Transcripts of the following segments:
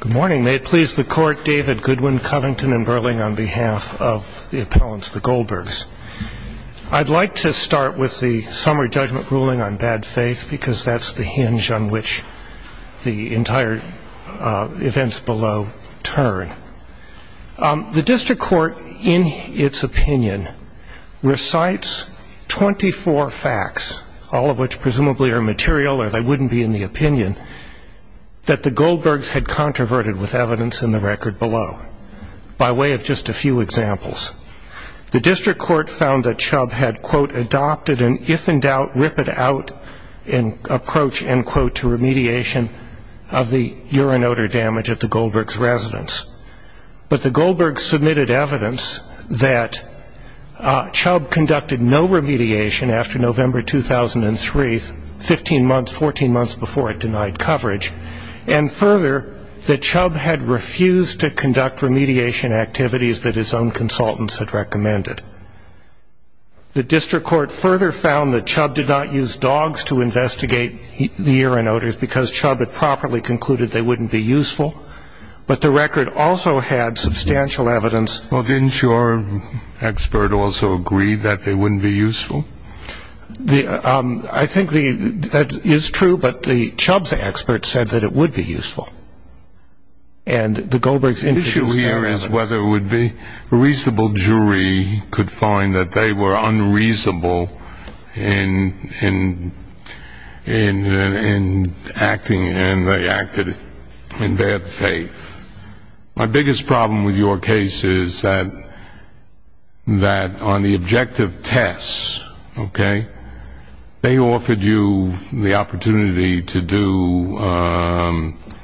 Good morning. May it please the Court, David Goodwin Covington and Berling on behalf of the appellants, the Goldbergs. I'd like to start with the summary judgment ruling on bad faith because that's the hinge on which the entire events below turn. The district court, in its opinion, recites 24 facts, all of which presumably are material or they wouldn't be in the opinion, that the Goldbergs had controverted with evidence in the record below by way of just a few examples. The district court found that Chubb had, quote, adopted an if-in-doubt rip-it-out approach, end quote, to remediation of the urine odor damage at the Goldbergs' residence. But the Goldbergs submitted evidence that Chubb conducted no remediation after November 2003, 15 months, 14 months before it denied coverage. And further, that Chubb had refused to conduct remediation activities that his own consultants had recommended. The district court further found that Chubb did not use dogs to investigate the urine odors because Chubb had properly concluded they wouldn't be useful. But the record also had substantial evidence. Well, didn't your expert also agree that they wouldn't be useful? I think that is true, but the Chubb's expert said that it would be useful. And the Goldbergs introduced their analysis. The issue here is whether a reasonable jury could find that they were unreasonable in acting, and they acted in bad faith. My biggest problem with your case is that on the objective tests, okay, they offered you the opportunity to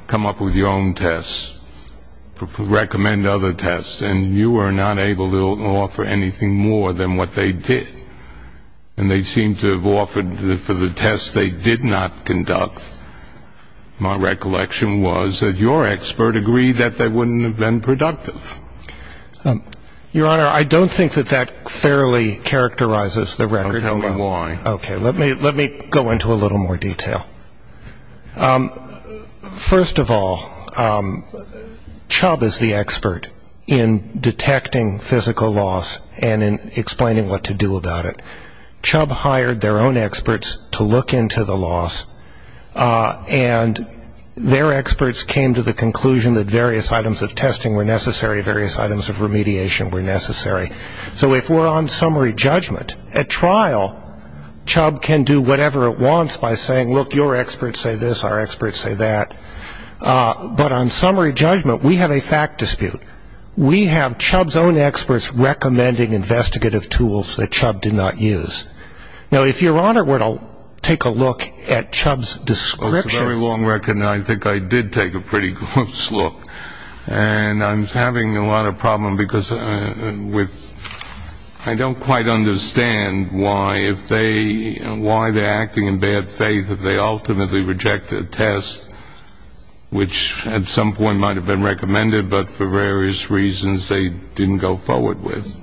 come up with your own tests, recommend other tests, and you were not able to offer anything more than what they did. And they seemed to have offered for the tests they did not conduct, my recollection was that your expert agreed that they wouldn't have been productive. Your Honor, I don't think that that fairly characterizes the record. Don't tell me why. Okay, let me go into a little more detail. First of all, Chubb is the expert in detecting physical loss and in explaining what to do about it. Chubb hired their own experts to look into the loss, and their experts came to the conclusion that various items of testing were necessary, various items of remediation were necessary. So if we're on summary judgment, at trial, Chubb can do whatever it wants by saying, look, your experts say this, our experts say that. But on summary judgment, we have a fact dispute. We have Chubb's own experts recommending investigative tools that Chubb did not use. Now, if your Honor were to take a look at Chubb's description. It's a very long record, and I think I did take a pretty close look. And I'm having a lot of problems because I don't quite understand why they're acting in bad faith if they ultimately reject a test, which at some point might have been recommended, but for various reasons they didn't go forward with.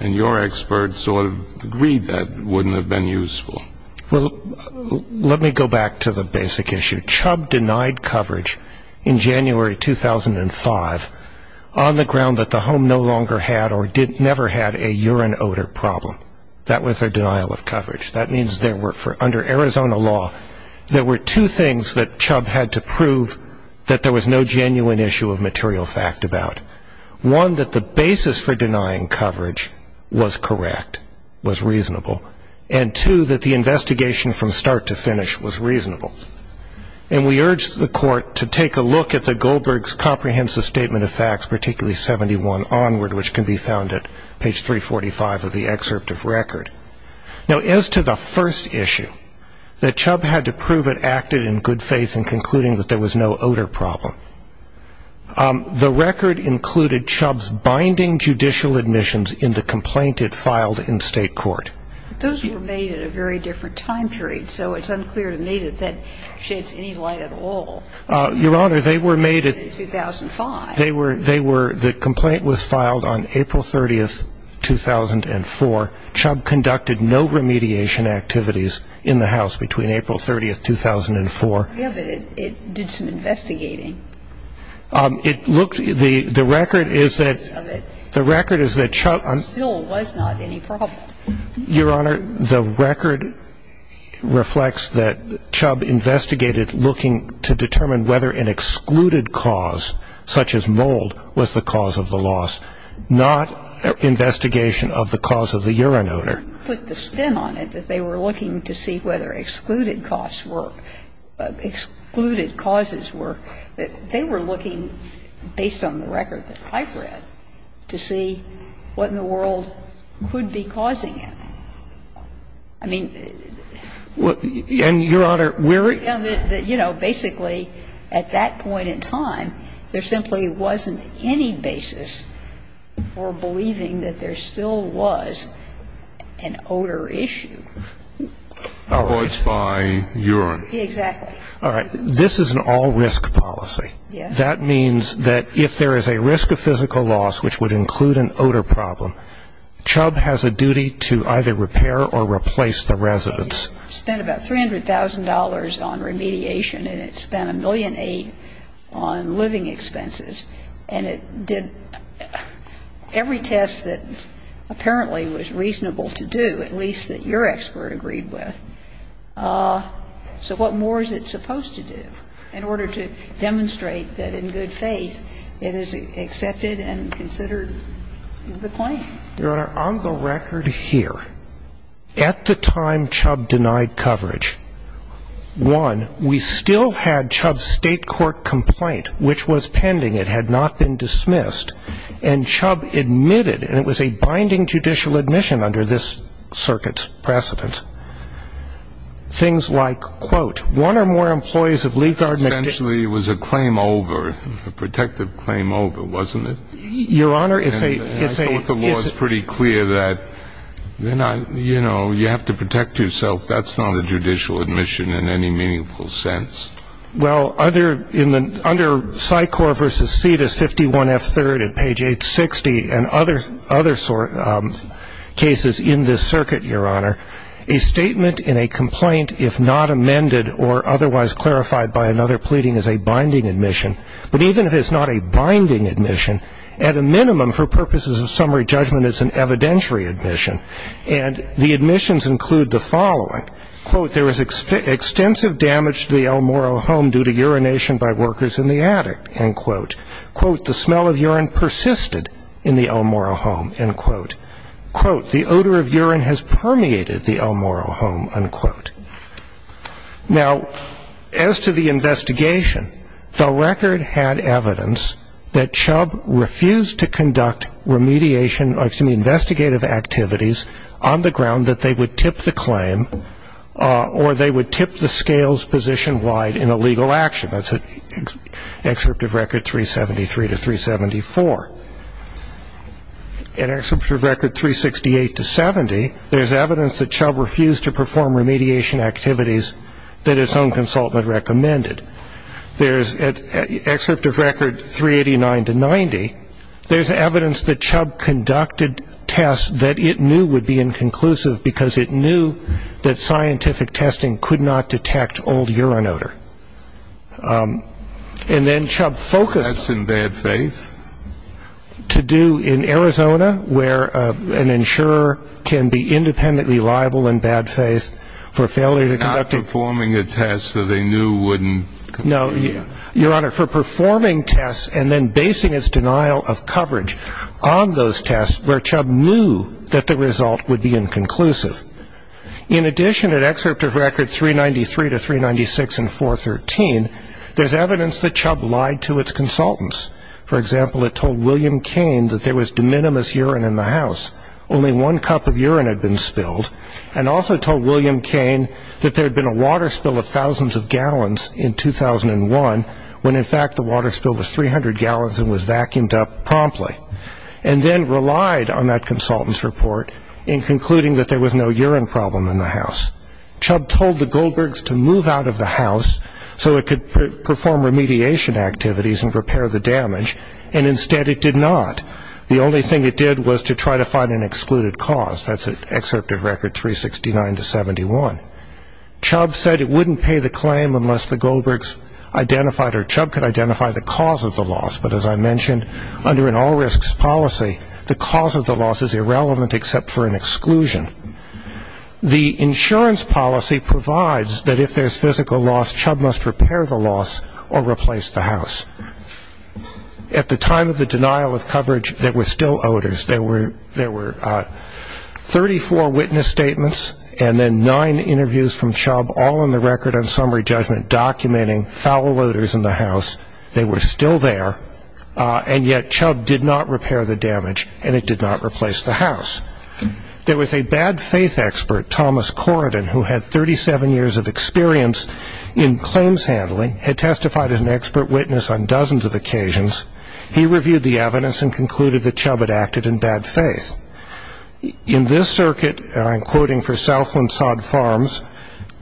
And your experts sort of agreed that it wouldn't have been useful. Well, let me go back to the basic issue. Chubb denied coverage in January 2005 on the ground that the home no longer had or never had a urine odor problem. That was their denial of coverage. That means under Arizona law, there were two things that Chubb had to prove that there was no genuine issue of material fact about. One, that the basis for denying coverage was correct, was reasonable. And two, that the investigation from start to finish was reasonable. And we urged the court to take a look at the Goldberg's comprehensive statement of facts, particularly 71 onward, which can be found at page 345 of the excerpt of record. Now, as to the first issue, that Chubb had to prove it acted in good faith in concluding that there was no odor problem, the record included Chubb's binding judicial admissions in the complaint it filed in state court. Those were made at a very different time period. So it's unclear to me that that sheds any light at all. Your Honor, they were made in 2005. The complaint was filed on April 30, 2004. Chubb conducted no remediation activities in the house between April 30, 2004. Yeah, but it did some investigating. It looked the record is that Chubb on. There still was not any problem. Your Honor, the record reflects that Chubb investigated looking to determine whether an excluded cause such as mold was the cause of the loss, not investigation of the cause of the urine odor. But the spin on it that they were looking to see whether excluded costs were, excluded causes were, they were looking, based on the record that I've read, to see what in the world could be causing it. I mean. And, Your Honor, we're. Basically, at that point in time, there simply wasn't any basis for believing that there still was an odor issue. Avoids by urine. Exactly. All right. This is an all-risk policy. Yes. That means that if there is a risk of physical loss, which would include an odor problem, Chubb has a duty to either repair or replace the residence. Spent about $300,000 on remediation, and it spent $1.8 million on living expenses. And it did every test that apparently was reasonable to do, at least that your expert agreed with. So what more is it supposed to do in order to demonstrate that in good faith it is accepted and considered the claim? Your Honor, on the record here, at the time Chubb denied coverage, one, we still had Chubb's state court complaint, which was pending. It had not been dismissed. And Chubb admitted, and it was a binding judicial admission under this circuit's precedent, things like, quote, one or more employees of Lee Gardner. Essentially, it was a claim over, a protective claim over, wasn't it? Your Honor, it's a... You know, you have to protect yourself. That's not a judicial admission in any meaningful sense. Well, under Sycorps v. Cetus 51F3rd at page 860 and other cases in this circuit, Your Honor, a statement in a complaint, if not amended or otherwise clarified by another pleading, is a binding admission. But even if it's not a binding admission, at a minimum, for purposes of summary judgment, it's an evidentiary admission. And the admissions include the following. Quote, there was extensive damage to the El Morro home due to urination by workers in the attic. End quote. Quote, the smell of urine persisted in the El Morro home. End quote. Quote, the odor of urine has permeated the El Morro home. End quote. Now, as to the investigation, the record had evidence that Chubb refused to conduct remediation, excuse me, investigative activities on the ground that they would tip the claim or they would tip the scales position-wide in a legal action. That's at Excerpt of Record 373 to 374. At Excerpt of Record 368 to 70, there's evidence that Chubb refused to perform remediation activities that his own consultant recommended. There's at Excerpt of Record 389 to 90, there's evidence that Chubb conducted tests that it knew would be inconclusive because it knew that scientific testing could not detect old urine odor. And then Chubb focused. To do tests in bad faith? To do in Arizona where an insurer can be independently liable in bad faith for failure to conduct. Not performing a test that they knew wouldn't. No, Your Honor, for performing tests and then basing its denial of coverage on those tests where Chubb knew that the result would be inconclusive. In addition, at Excerpt of Record 393 to 396 and 413, there's evidence that Chubb lied to its consultants. For example, it told William Kane that there was de minimis urine in the house. Only one cup of urine had been spilled. And also told William Kane that there had been a water spill of thousands of gallons in 2001 when, in fact, the water spill was 300 gallons and was vacuumed up promptly. And then relied on that consultant's report in concluding that there was no urine problem in the house. Chubb told the Goldbergs to move out of the house so it could perform remediation activities and repair the damage, and instead it did not. The only thing it did was to try to find an excluded cause. That's at Excerpt of Record 369 to 71. Chubb said it wouldn't pay the claim unless the Goldbergs identified or Chubb could identify the cause of the loss. But as I mentioned, under an all-risks policy, the cause of the loss is irrelevant except for an exclusion. The insurance policy provides that if there's physical loss, Chubb must repair the loss or replace the house. At the time of the denial of coverage, there were still odors. There were 34 witness statements and then nine interviews from Chubb, all on the record on summary judgment documenting foul odors in the house. They were still there, and yet Chubb did not repair the damage, and it did not replace the house. There was a bad-faith expert, Thomas Corridan, who had 37 years of experience in claims handling, had testified as an expert witness on dozens of occasions. He reviewed the evidence and concluded that Chubb had acted in bad faith. In this circuit, and I'm quoting for Southland Sod Farms,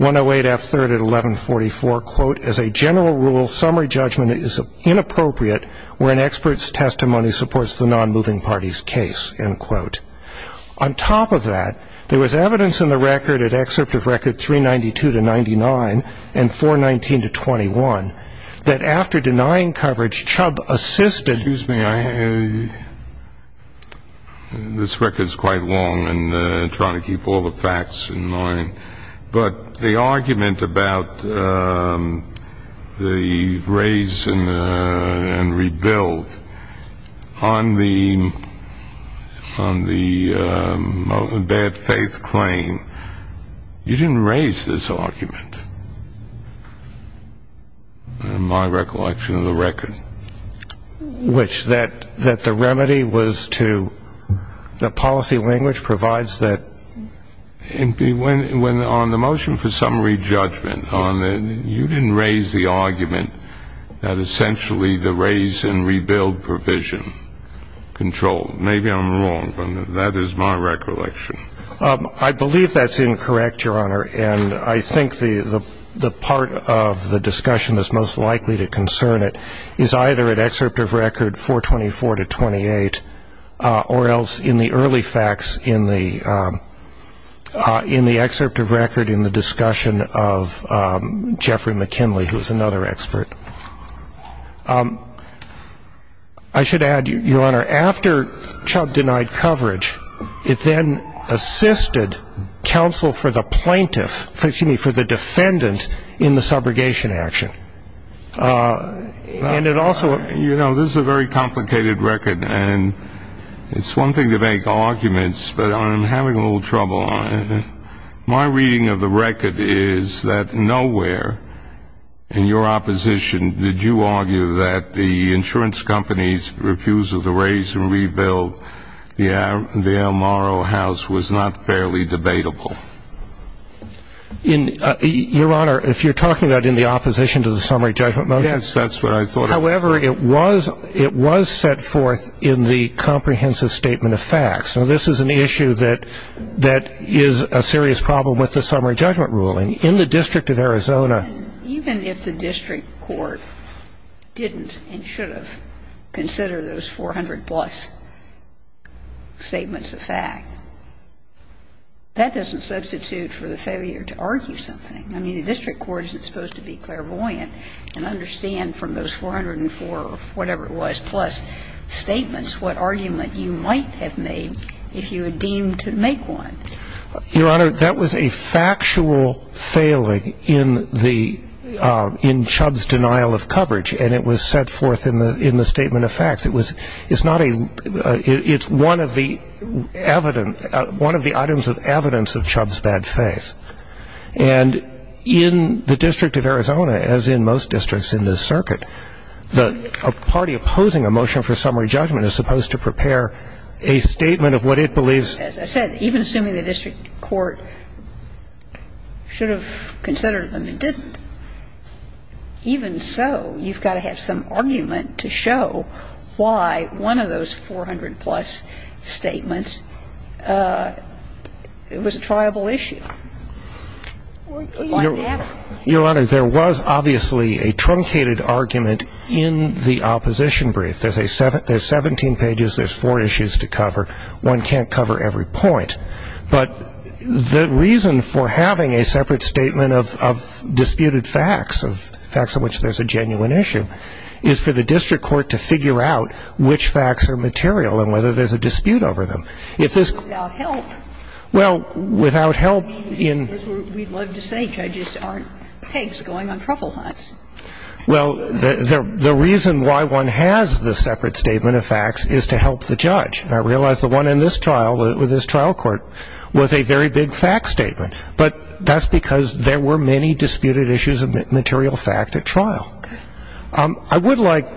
108F3rd at 1144, quote, as a general rule, summary judgment is inappropriate where an expert's testimony supports the non-moving party's case, end quote. On top of that, there was evidence in the record at Excerpt of Record 392-99 and 419-21 that after denying coverage, Chubb assisted. Excuse me. This record is quite long, and I'm trying to keep all the facts in mind. But the argument about the raise and rebuild on the bad-faith claim, you didn't raise this argument, in my recollection of the record. Which that the remedy was to the policy language provides that. When on the motion for summary judgment, you didn't raise the argument that essentially the raise and rebuild provision controlled. Maybe I'm wrong, but that is my recollection. I believe that's incorrect, Your Honor, and I think the part of the discussion that's most likely to concern it is either at Excerpt of Record 424-28 or else in the early facts in the Excerpt of Record in the discussion of Jeffrey McKinley, who is another expert. I should add, Your Honor, after Chubb denied coverage, it then assisted counsel for the plaintiff, excuse me, for the defendant in the subrogation action. You know, this is a very complicated record, and it's one thing to make arguments, but I'm having a little trouble on it. My reading of the record is that nowhere in your opposition did you argue that the insurance companies refused to raise and rebuild the El Moro house was not fairly debatable. Your Honor, if you're talking about in the opposition to the summary judgment motion. Yes, that's what I thought of. However, it was set forth in the comprehensive statement of facts. Now, this is an issue that is a serious problem with the summary judgment ruling. In the District of Arizona. Even if the district court didn't and should have considered those 400-plus statements of fact, that doesn't substitute for the failure to argue something. I mean, the district court isn't supposed to be clairvoyant and understand from those 404 or whatever it was plus statements what argument you might have made if you had deemed to make one. Your Honor, that was a factual failing in Chubb's denial of coverage, and it was set forth in the statement of facts. It's one of the items of evidence of Chubb's bad faith. And in the District of Arizona, as in most districts in this circuit, a party opposing a motion for summary judgment is supposed to prepare a statement of what it believes. As I said, even assuming the district court should have considered them, it didn't. Even so, you've got to have some argument to show why one of those 400-plus statements was a triable issue. Your Honor, there was obviously a truncated argument in the opposition brief. There's 17 pages. There's four issues to cover. One can't cover every point. But the reason for having a separate statement of disputed facts, of facts on which there's a genuine issue, is for the district court to figure out which facts are material and whether there's a dispute over them. If this goes without help, we'd love to say judges aren't pigs going on truffle hunts. Well, the reason why one has the separate statement of facts is to help the judge. And I realize the one in this trial, with this trial court, was a very big fact statement. But that's because there were many disputed issues of material fact at trial. I would like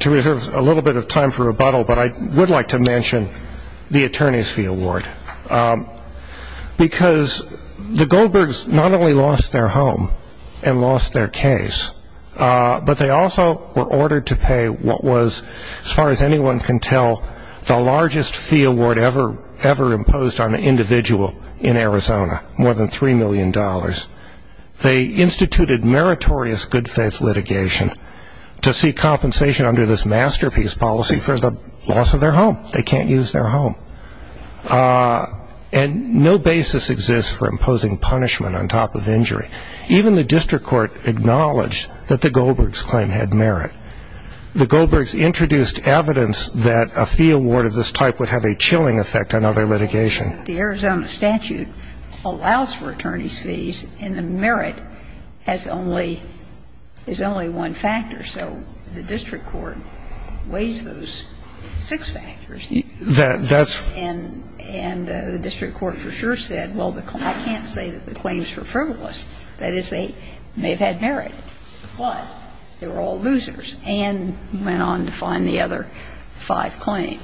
to reserve a little bit of time for rebuttal, but I would like to mention the Attorney's Fee Award. Because the Goldbergs not only lost their home and lost their case, but they also were ordered to pay what was, as far as anyone can tell, the largest fee award ever imposed on an individual in Arizona, more than $3 million. They instituted meritorious good faith litigation to see compensation under this masterpiece policy for the loss of their home. They can't use their home. And no basis exists for imposing punishment on top of injury. Even the district court acknowledged that the Goldbergs claim had merit. The Goldbergs introduced evidence that a fee award of this type would have a chilling effect on other litigation. The Arizona statute allows for attorney's fees, and the merit is only one factor. So the district court weighs those six factors. And the district court for sure said, well, I can't say that the claims were frivolous. That is, they may have had merit, but they were all losers, and went on to find the other five claims.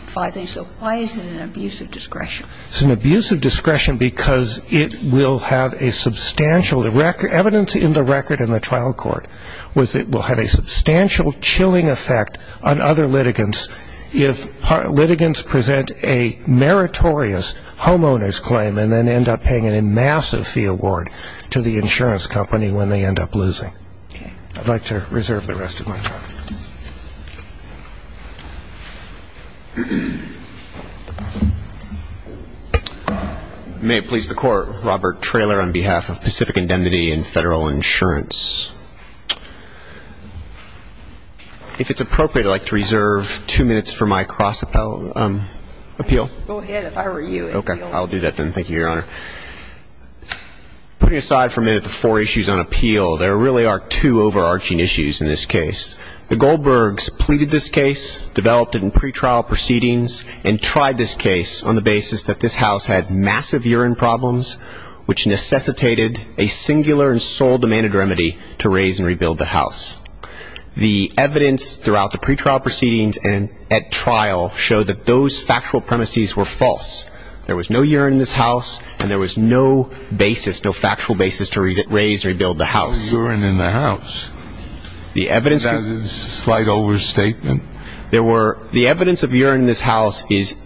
So why is it an abuse of discretion? It's an abuse of discretion because it will have a substantial evidence in the record in the trial court was it will have a substantial chilling effect on other litigants if litigants present a meritorious homeowner's claim and then end up paying a massive fee award to the insurance company when they end up losing. I'd like to reserve the rest of my time. May it please the Court. Robert Traylor on behalf of Pacific Indemnity and Federal Insurance. If it's appropriate, I'd like to reserve two minutes for my cross appeal. Go ahead. If I were you, it would be all right. Okay. I'll do that then. Thank you, Your Honor. Putting aside for a minute the four issues on appeal, there really are two overarching issues in this case. The Goldbergs pleaded this case, developed it in pretrial proceedings, and tried this case on the basis that this house had massive urine problems which necessitated a singular and sole demanded remedy to raise and rebuild the house. The evidence throughout the pretrial proceedings and at trial showed that those factual premises were false. There was no urine in this house, and there was no basis, no factual basis to raise and rebuild the house. No urine in the house. Is that a slight overstatement? The evidence of urine in this house is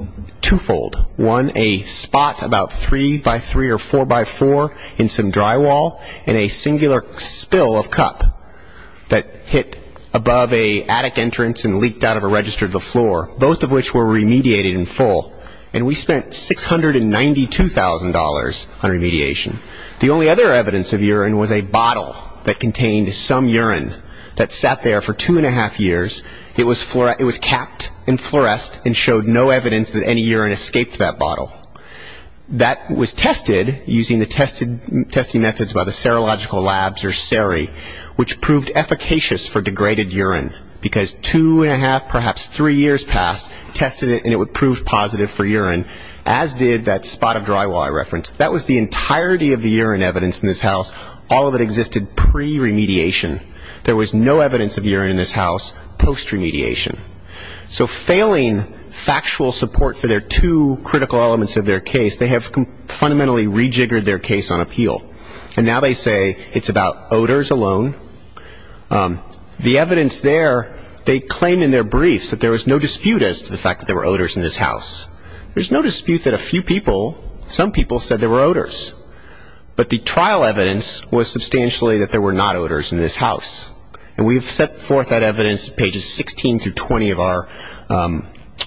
twofold. One, a spot about three by three or four by four in some drywall, and a singular spill of cup that hit above an attic entrance and leaked out of a register of the floor, both of which were remediated in full, and we spent $692,000 on remediation. The only other evidence of urine was a bottle that contained some urine that sat there for two and a half years. It was capped and fluoresced and showed no evidence that any urine escaped that bottle. That was tested using the testing methods by the serological labs or seri, which proved efficacious for degraded urine because two and a half, perhaps three years passed, tested it and it would prove positive for urine, as did that spot of drywall I referenced. That was the entirety of the urine evidence in this house. All of it existed pre-remediation. There was no evidence of urine in this house post-remediation. So failing factual support for their two critical elements of their case, they have fundamentally rejiggered their case on appeal. And now they say it's about odors alone. The evidence there, they claim in their briefs that there was no dispute as to the fact that there were odors in this house. There's no dispute that a few people, some people, said there were odors. But the trial evidence was substantially that there were not odors in this house. And we've set forth that evidence at pages 16 through 20 of our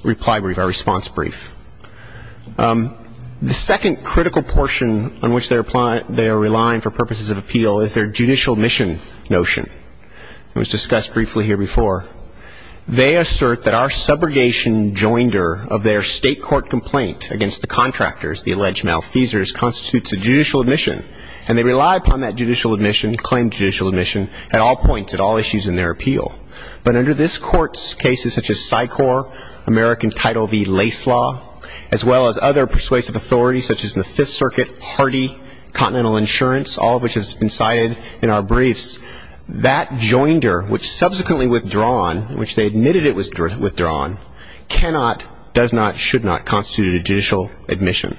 reply brief, our response brief. The second critical portion on which they are relying for purposes of appeal is their judicial mission notion. It was discussed briefly here before. They assert that our subrogation joinder of their state court complaint against the contractors, the alleged malfeasors, constitutes a judicial admission. And they rely upon that judicial admission, claim judicial admission, at all points, at all issues in their appeal. But under this court's cases such as Sycor, American Title V Lace Law, as well as other persuasive authorities such as the Fifth Circuit, Hardy, Continental Insurance, all of which have been cited in our briefs, that joinder, which subsequently withdrawn, in which they admitted it was withdrawn, cannot, does not, should not constitute a judicial admission.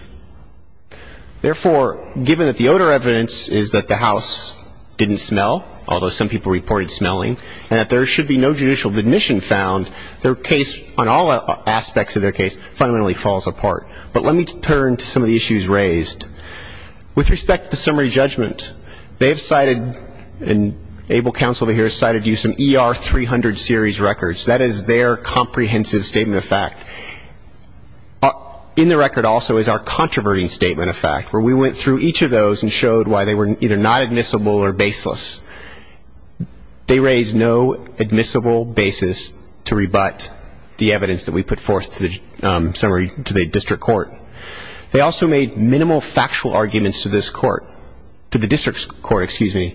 Therefore, given that the odor evidence is that the house didn't smell, although some people reported smelling, and that there should be no judicial admission found, their case, on all aspects of their case, fundamentally falls apart. But let me turn to some of the issues raised. With respect to summary judgment, they have cited, and ABLE counsel over here has cited you, some ER 300 series records. That is their comprehensive statement of fact. In the record also is our controverting statement of fact, where we went through each of those and showed why they were either not admissible or baseless. They raise no admissible basis to rebut the evidence that we put forth to the district court. They also made minimal factual arguments to this court, to the district court, excuse me.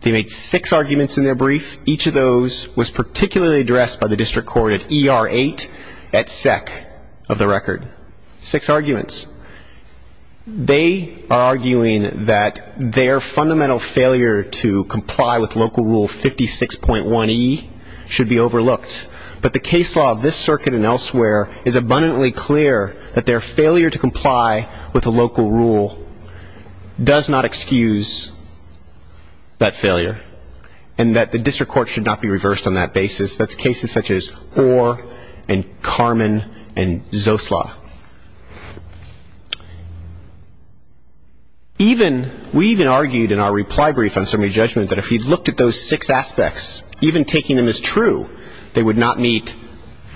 They made six arguments in their brief. Each of those was particularly addressed by the district court at ER 8 at SEC of the record. Six arguments. They are arguing that their fundamental failure to comply with local rule 56.1E should be overlooked. But the case law of this circuit and elsewhere is abundantly clear that their failure to comply with a local rule does not excuse that failure. And that the district court should not be reversed on that basis. That's cases such as Orr and Carmen and Zosla. Even, we even argued in our reply brief on summary judgment that if you looked at those six aspects, even taking them as true, they would not meet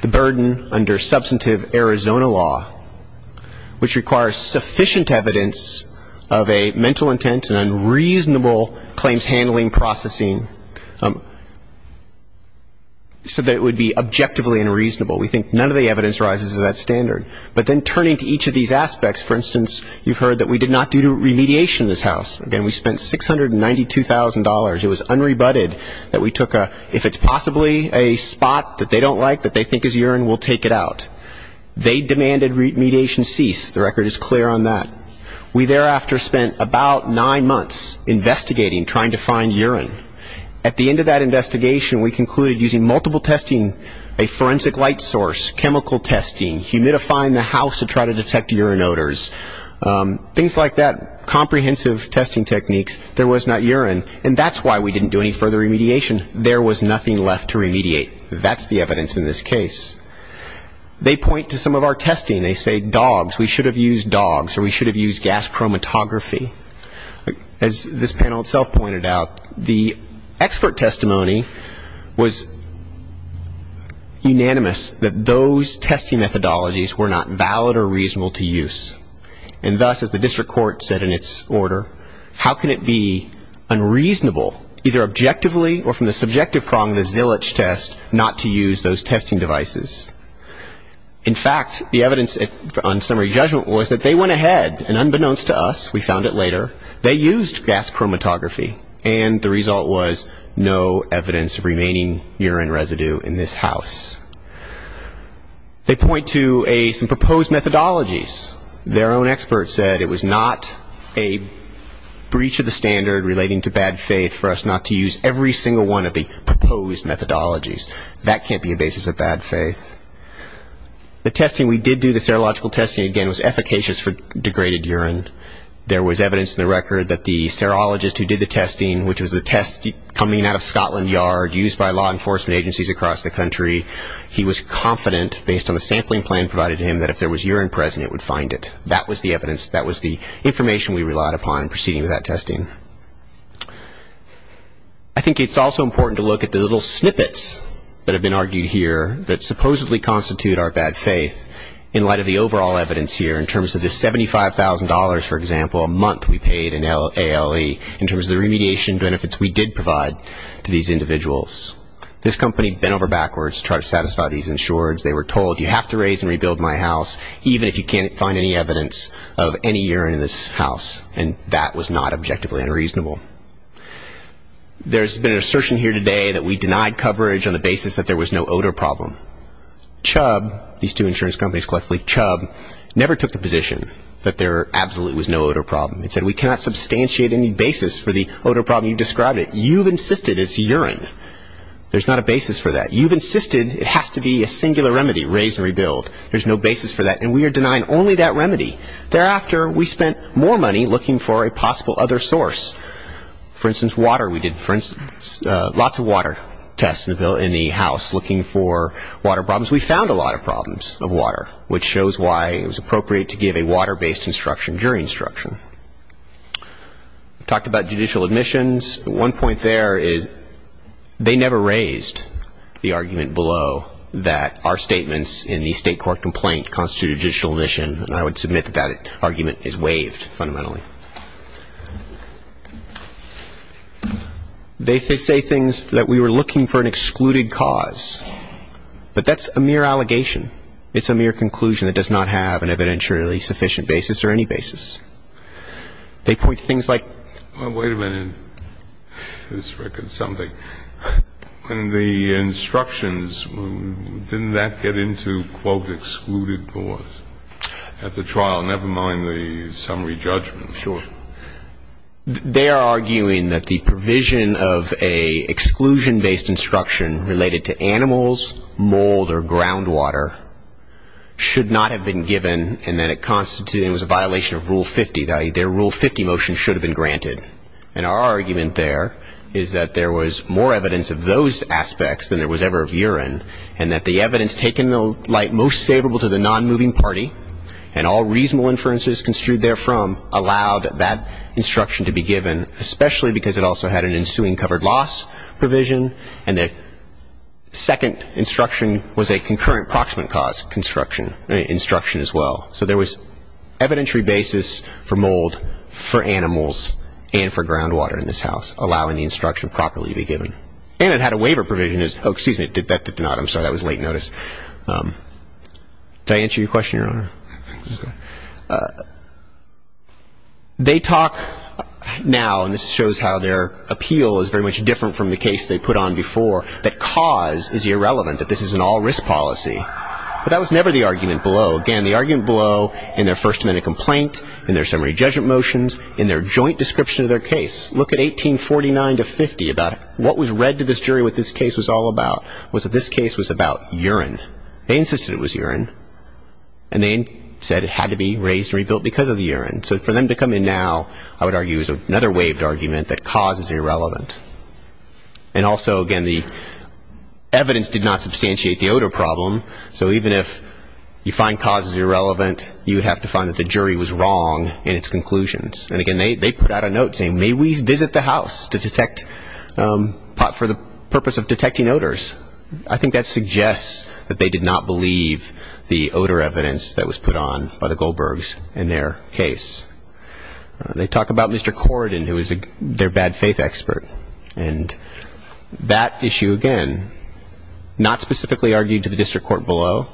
the burden under substantive Arizona law, which requires sufficient evidence of a mental intent and unreasonable claims handling processing, so that it would be objectively unreasonable. We think none of the evidence rises to that standard. But then turning to each of these aspects, for instance, you've heard that we did not do remediation in this house. Again, we spent $692,000. It was unrebutted that we took a, if it's possibly a spot that they don't like, that they think is urine, we'll take it out. They demanded remediation cease. The record is clear on that. We thereafter spent about nine months investigating, trying to find urine. At the end of that investigation, we concluded using multiple testing, a forensic light source, chemical testing, humidifying the house to try to detect urine odors, things like that, comprehensive testing techniques, there was not urine. And that's why we didn't do any further remediation. There was nothing left to remediate. That's the evidence in this case. They point to some of our testing. They say dogs, we should have used dogs or we should have used gas chromatography. As this panel itself pointed out, the expert testimony was unanimous, that those testing methodologies were not valid or reasonable to use. And thus, as the district court said in its order, how can it be unreasonable, either objectively or from the subjective prong of the Zilich test, not to use those testing devices? In fact, the evidence on summary judgment was that they went ahead, and unbeknownst to us, we found it later, they used gas chromatography, and the result was no evidence of remaining urine residue in this house. They point to some proposed methodologies. Their own expert said it was not a breach of the standard relating to bad faith for us not to use every single one of the proposed methodologies. That can't be a basis of bad faith. The testing we did do, the serological testing, again, was efficacious for degraded urine. There was evidence in the record that the serologist who did the testing, which was the test coming out of Scotland Yard, used by law enforcement agencies across the country, he was confident, based on the sampling plan provided to him, that if there was urine present, it would find it. That was the evidence. That was the information we relied upon in proceeding with that testing. I think it's also important to look at the little snippets that have been argued here that supposedly constitute our bad faith in light of the overall evidence here, in terms of the $75,000, for example, a month we paid in ALE, in terms of the remediation benefits we did provide to these individuals. This company bent over backwards to try to satisfy these insurers. They were told, you have to raise and rebuild my house, even if you can't find any evidence of any urine in this house. And that was not objectively unreasonable. There's been an assertion here today that we denied coverage on the basis that there was no odor problem. Chubb, these two insurance companies collectively, Chubb, never took the position that there absolutely was no odor problem. They said, we cannot substantiate any basis for the odor problem you described. You've insisted it's urine. There's not a basis for that. You've insisted it has to be a singular remedy, raise and rebuild. There's no basis for that. And we are denying only that remedy. Thereafter, we spent more money looking for a possible other source. For instance, water. We did lots of water tests in the house, looking for water problems. We found a lot of problems of water, which shows why it was appropriate to give a water-based instruction during instruction. We talked about judicial admissions. One point there is they never raised the argument below that our statements in the State Court complaint constitute a judicial admission, and I would submit that that argument is waived fundamentally. They say things that we were looking for an excluded cause. But that's a mere allegation. It's a mere conclusion. It does not have an evidentially sufficient basis or any basis. They point to things like ---- Wait a minute. This records something. In the instructions, didn't that get into, quote, excluded cause at the trial, never mind the summary judgment? Sure. They are arguing that the provision of an exclusion-based instruction related to animals, mold, or groundwater should not have been given, and that it constituted a violation of Rule 50. Their Rule 50 motion should have been granted. And our argument there is that there was more evidence of those aspects than there was ever of urine, and that the evidence taken in the light most favorable to the nonmoving party and all reasonable inferences construed therefrom allowed that instruction to be given, especially because it also had an ensuing covered loss provision, and the second instruction was a concurrent proximate cause instruction as well. So there was evidentiary basis for mold, for animals, and for groundwater in this house, allowing the instruction properly to be given. And it had a waiver provision. Oh, excuse me. That did not. I'm sorry. That was late notice. Did I answer your question, Your Honor? I think so. They talk now, and this shows how their appeal is very much different from the case they put on before, that cause is irrelevant, that this is an all-risk policy. But that was never the argument below. Again, the argument below in their first amendment complaint, in their summary judgment motions, in their joint description of their case, look at 1849 to 50, about what was read to this jury what this case was all about, was that this case was about urine. They insisted it was urine, and they said it had to be raised and rebuilt because of the urine. So for them to come in now, I would argue, is another waived argument that cause is irrelevant. And also, again, the evidence did not substantiate the odor problem, so even if you find cause is irrelevant, you would have to find that the jury was wrong in its conclusions. And, again, they put out a note saying, may we visit the house to detect pot for the purpose of detecting odors. I think that suggests that they did not believe the odor evidence that was put on by the Goldbergs in their case. They talk about Mr. Corridan, who was their bad faith expert. And that issue, again, not specifically argued to the district court below,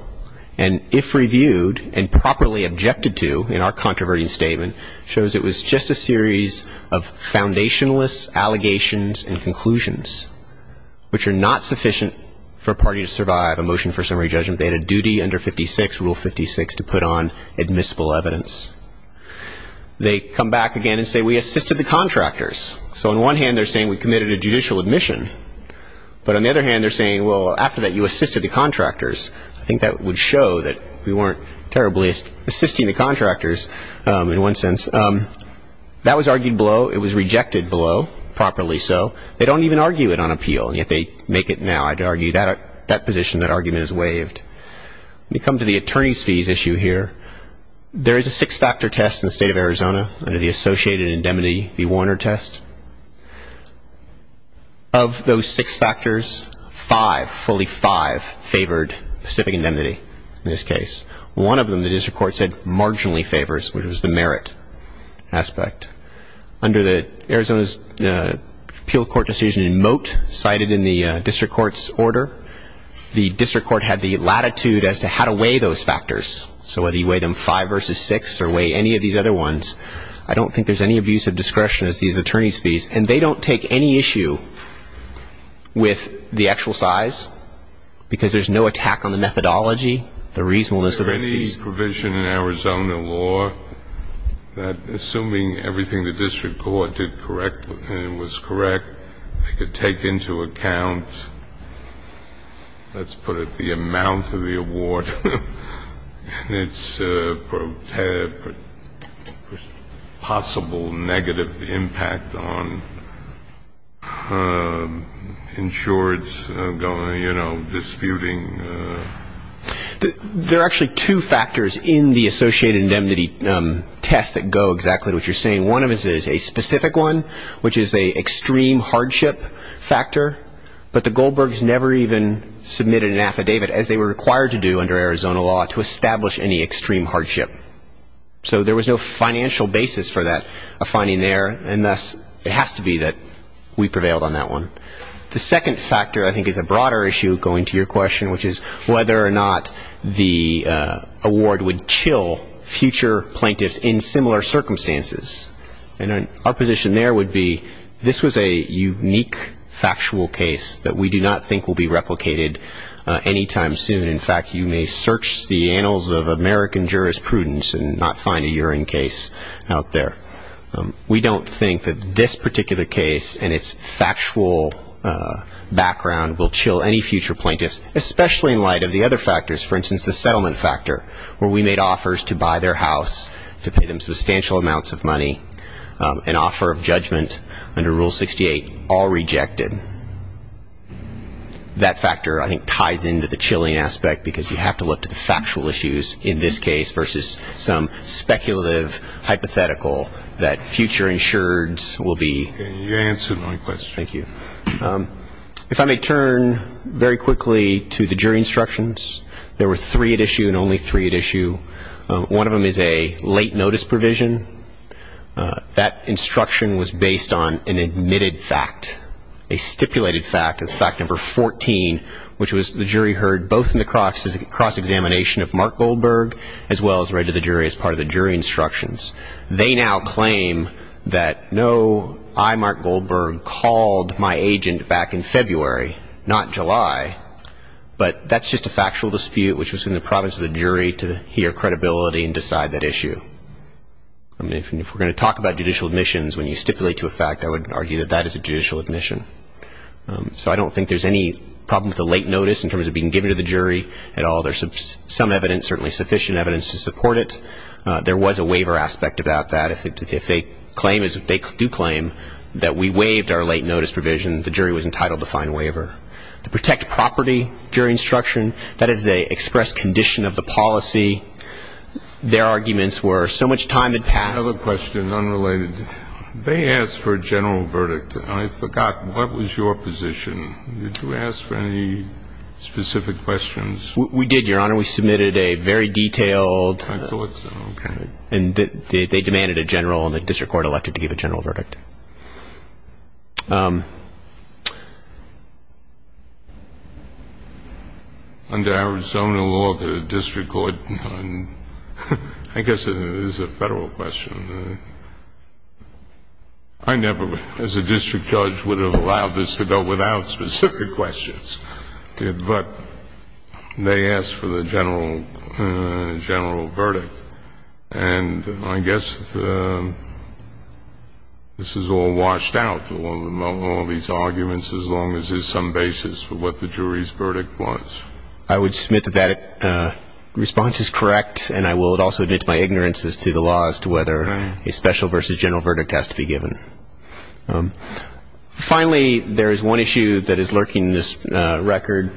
and if reviewed and properly objected to in our controverting statement, shows it was just a series of foundationless allegations and conclusions, which are not sufficient for a party to survive a motion for summary judgment. They had a duty under 56, Rule 56, to put on admissible evidence. They come back again and say, we assisted the contractors. So on one hand, they're saying we committed a judicial admission. But on the other hand, they're saying, well, after that, you assisted the contractors. I think that would show that we weren't terribly assisting the contractors in one sense. That was argued below. It was rejected below, properly so. They don't even argue it on appeal, and yet they make it now. I'd argue that position, that argument is waived. We come to the attorney's fees issue here. There is a six-factor test in the state of Arizona under the associated indemnity, the Warner test. Of those six factors, five, fully five, favored specific indemnity in this case. One of them, the district court said, marginally favors, which was the merit aspect. Under the Arizona's appeal court decision in Moat, cited in the district court's order, the district court had the latitude as to how to weigh those factors. So whether you weigh them five versus six or weigh any of these other ones, I don't think there's any abuse of discretion as these attorney's fees. And they don't take any issue with the actual size because there's no attack on the methodology, the reasonableness of the fees. This provision in Arizona law, assuming everything the district court did correctly and was correct, they could take into account, let's put it, the amount of the award and its possible negative impact on insurance, you know, disputing. There are actually two factors in the associated indemnity test that go exactly to what you're saying. One of them is a specific one, which is an extreme hardship factor. But the Goldbergs never even submitted an affidavit, as they were required to do under Arizona law, to establish any extreme hardship. So there was no financial basis for that, a finding there. And thus, it has to be that we prevailed on that one. The second factor, I think, is a broader issue going to your question, which is whether or not the award would chill future plaintiffs in similar circumstances. And our position there would be this was a unique factual case that we do not think will be replicated anytime soon. In fact, you may search the annals of American jurisprudence and not find a urine case out there. We don't think that this particular case and its factual background will chill any future plaintiffs, especially in light of the other factors, for instance, the settlement factor, where we made offers to buy their house, to pay them substantial amounts of money, an offer of judgment under Rule 68, all rejected. That factor, I think, ties into the chilling aspect, because you have to look to the factual issues in this case versus some speculative hypothetical that future insureds will be. You answered my question. Thank you. If I may turn very quickly to the jury instructions. There were three at issue and only three at issue. One of them is a late notice provision. That instruction was based on an admitted fact, a stipulated fact. It's fact number 14, which was the jury heard both in the cross-examination of Mark Goldberg as well as read to the jury as part of the jury instructions. They now claim that no, I, Mark Goldberg, called my agent back in February, not July, but that's just a factual dispute which was in the province of the jury to hear credibility and decide that issue. If we're going to talk about judicial admissions, when you stipulate to a fact, I would argue that that is a judicial admission. So I don't think there's any problem with the late notice in terms of being given to the jury at all. There's some evidence, certainly sufficient evidence, to support it. There was a waiver aspect about that. If they claim, as they do claim, that we waived our late notice provision, the jury was entitled to find a waiver. To protect property, jury instruction, that is an expressed condition of the policy. Their arguments were so much time had passed. I have a question, unrelated. They asked for a general verdict. I forgot, what was your position? Did you ask for any specific questions? We did, Your Honor. We submitted a very detailed. I thought so. Okay. And they demanded a general, and the district court elected to give a general verdict. Under Arizona law, the district court, I guess it is a Federal question. I never, as a district judge, would have allowed this to go without specific questions. But they asked for the general verdict. And I guess this is all washed out, all these arguments, as long as there's some basis for what the jury's verdict was. I would submit that that response is correct. And I will also admit to my ignorance as to the law as to whether a special versus general verdict has to be given. Finally, there is one issue that is lurking in this record,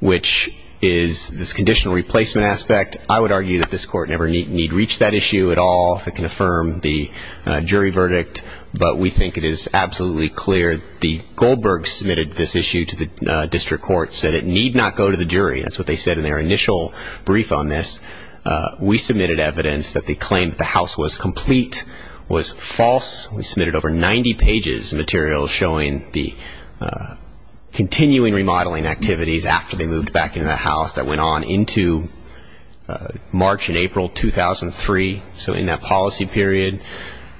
which is this conditional replacement aspect. I would argue that this Court never need reach that issue at all, if it can affirm the jury verdict. But we think it is absolutely clear. The Goldbergs submitted this issue to the district court, said it need not go to the jury. That's what they said in their initial brief on this. We submitted evidence that they claimed that the house was complete, was false. We submitted over 90 pages of material showing the continuing remodeling activities after they moved back into the house that went on into March and April 2003, so in that policy period.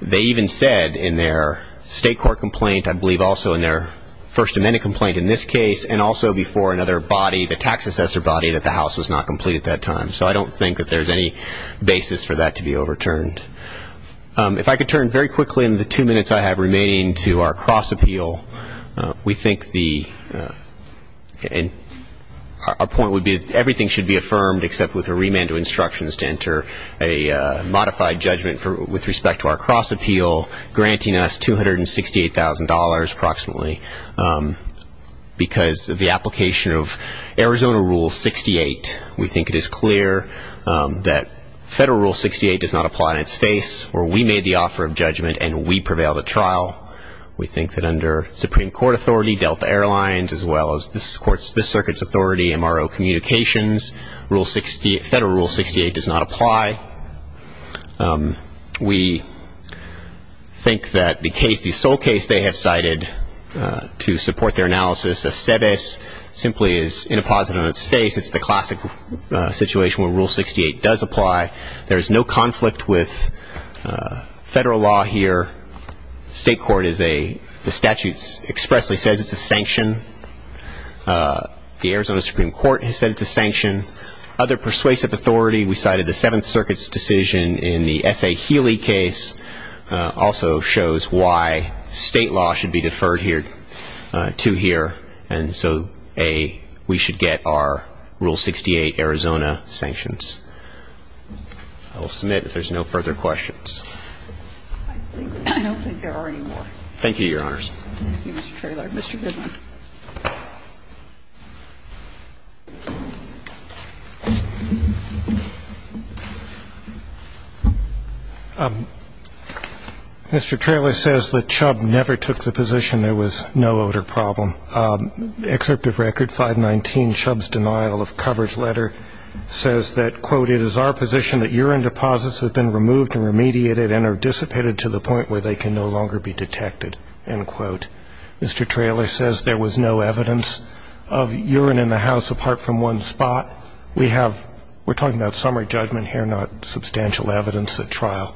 They even said in their state court complaint, I believe also in their First Amendment complaint in this case, and also before another body, the tax assessor body, that the house was not complete at that time. So I don't think that there's any basis for that to be overturned. If I could turn very quickly in the two minutes I have remaining to our cross-appeal, we think our point would be that everything should be affirmed except with a remand of instructions to enter a modified judgment with respect to our cross-appeal, granting us $268,000 approximately. Because of the application of Arizona Rule 68, we think it is clear that Federal Rule 68 does not apply in its face, or we made the offer of judgment and we prevailed at trial. We think that under Supreme Court authority, Delta Airlines, as well as this circuit's authority, MRO Communications, Federal Rule 68 does not apply. We think that the case, the sole case they have cited to support their analysis of CEDIS, simply is inapposite on its face. It's the classic situation where Rule 68 does apply. There is no conflict with Federal law here. State court is a, the statute expressly says it's a sanction. The Arizona Supreme Court has said it's a sanction. Other persuasive authority, we cited the Seventh Circuit's decision in the S.A. Healy case, also shows why state law should be deferred here, to here. And so, A, we should get our Rule 68 Arizona sanctions. I will submit if there's no further questions. I don't think there are any more. Thank you, Your Honors. Thank you, Mr. Traylor. Mr. Goodman. Thank you. Mr. Traylor says that Chubb never took the position there was no odor problem. Excerpt of record 519, Chubb's denial of coverage letter, says that, quote, it is our position that urine deposits have been removed and remediated and are dissipated to the point where they can no longer be detected, end quote. Mr. Traylor says there was no evidence of urine in the house apart from one spot. We have, we're talking about summary judgment here, not substantial evidence at trial.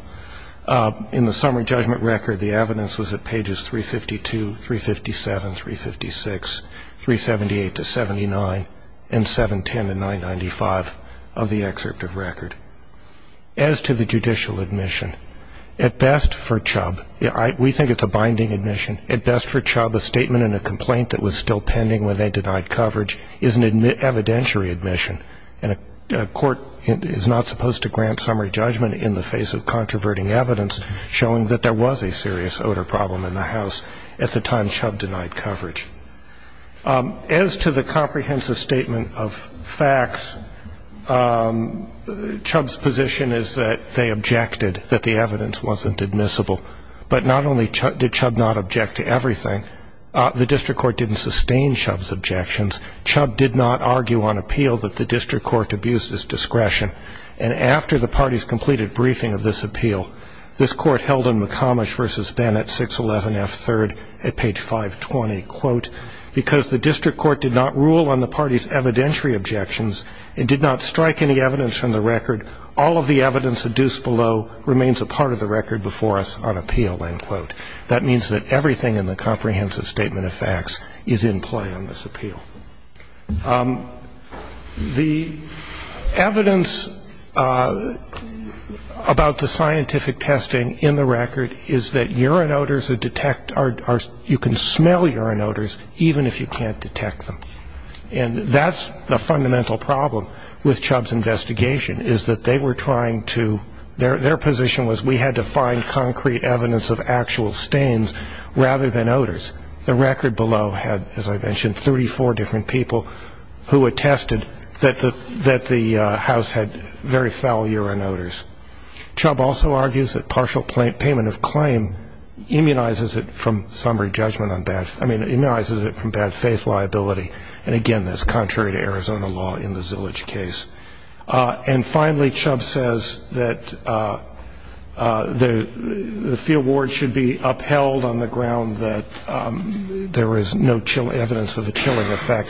In the summary judgment record, the evidence was at pages 352, 357, 356, 378 to 79, and 710 to 995 of the excerpt of record. As to the judicial admission, at best for Chubb, we think it's a binding admission, at best for Chubb a statement in a complaint that was still pending when they denied coverage is an evidentiary admission. And a court is not supposed to grant summary judgment in the face of controverting evidence showing that there was a serious odor problem in the house at the time Chubb denied coverage. As to the comprehensive statement of facts, Chubb's position is that they objected, that the evidence wasn't admissible. But not only did Chubb not object to everything, the district court didn't sustain Chubb's objections. Chubb did not argue on appeal that the district court abused his discretion. And after the party's completed briefing of this appeal, this court held in McComish v. Benn at 611 F. 3rd at page 520, quote, because the district court did not rule on the party's evidentiary objections and did not strike any evidence from the record, all of the evidence adduced below remains a part of the record before us on appeal, end quote. That means that everything in the comprehensive statement of facts is in play on this appeal. The evidence about the scientific testing in the record is that urine odors are detect, you can smell urine odors even if you can't detect them. And that's the fundamental problem with Chubb's investigation is that they were trying to, their position was we had to find concrete evidence of actual stains rather than odors. The record below had, as I mentioned, 34 different people who attested that the House had very foul urine odors. Chubb also argues that partial payment of claim immunizes it from somber judgment on bad, I mean, immunizes it from bad faith liability. And, again, that's contrary to Arizona law in the Zillage case. And finally, Chubb says that the fee award should be upheld on the ground that there is no evidence of a chilling effect.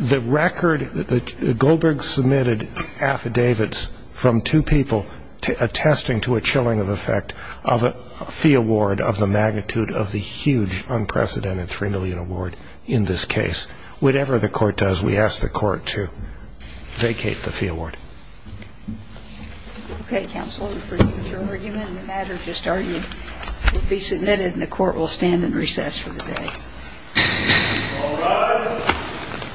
The record, Goldberg submitted affidavits from two people attesting to a chilling effect of a fee award of the magnitude of the huge, unprecedented $3 million award in this case. Whatever the court does, we ask the court to vacate the fee award. Okay, counsel, we appreciate your argument. The matter just argued will be submitted and the court will stand in recess for the day. All rise.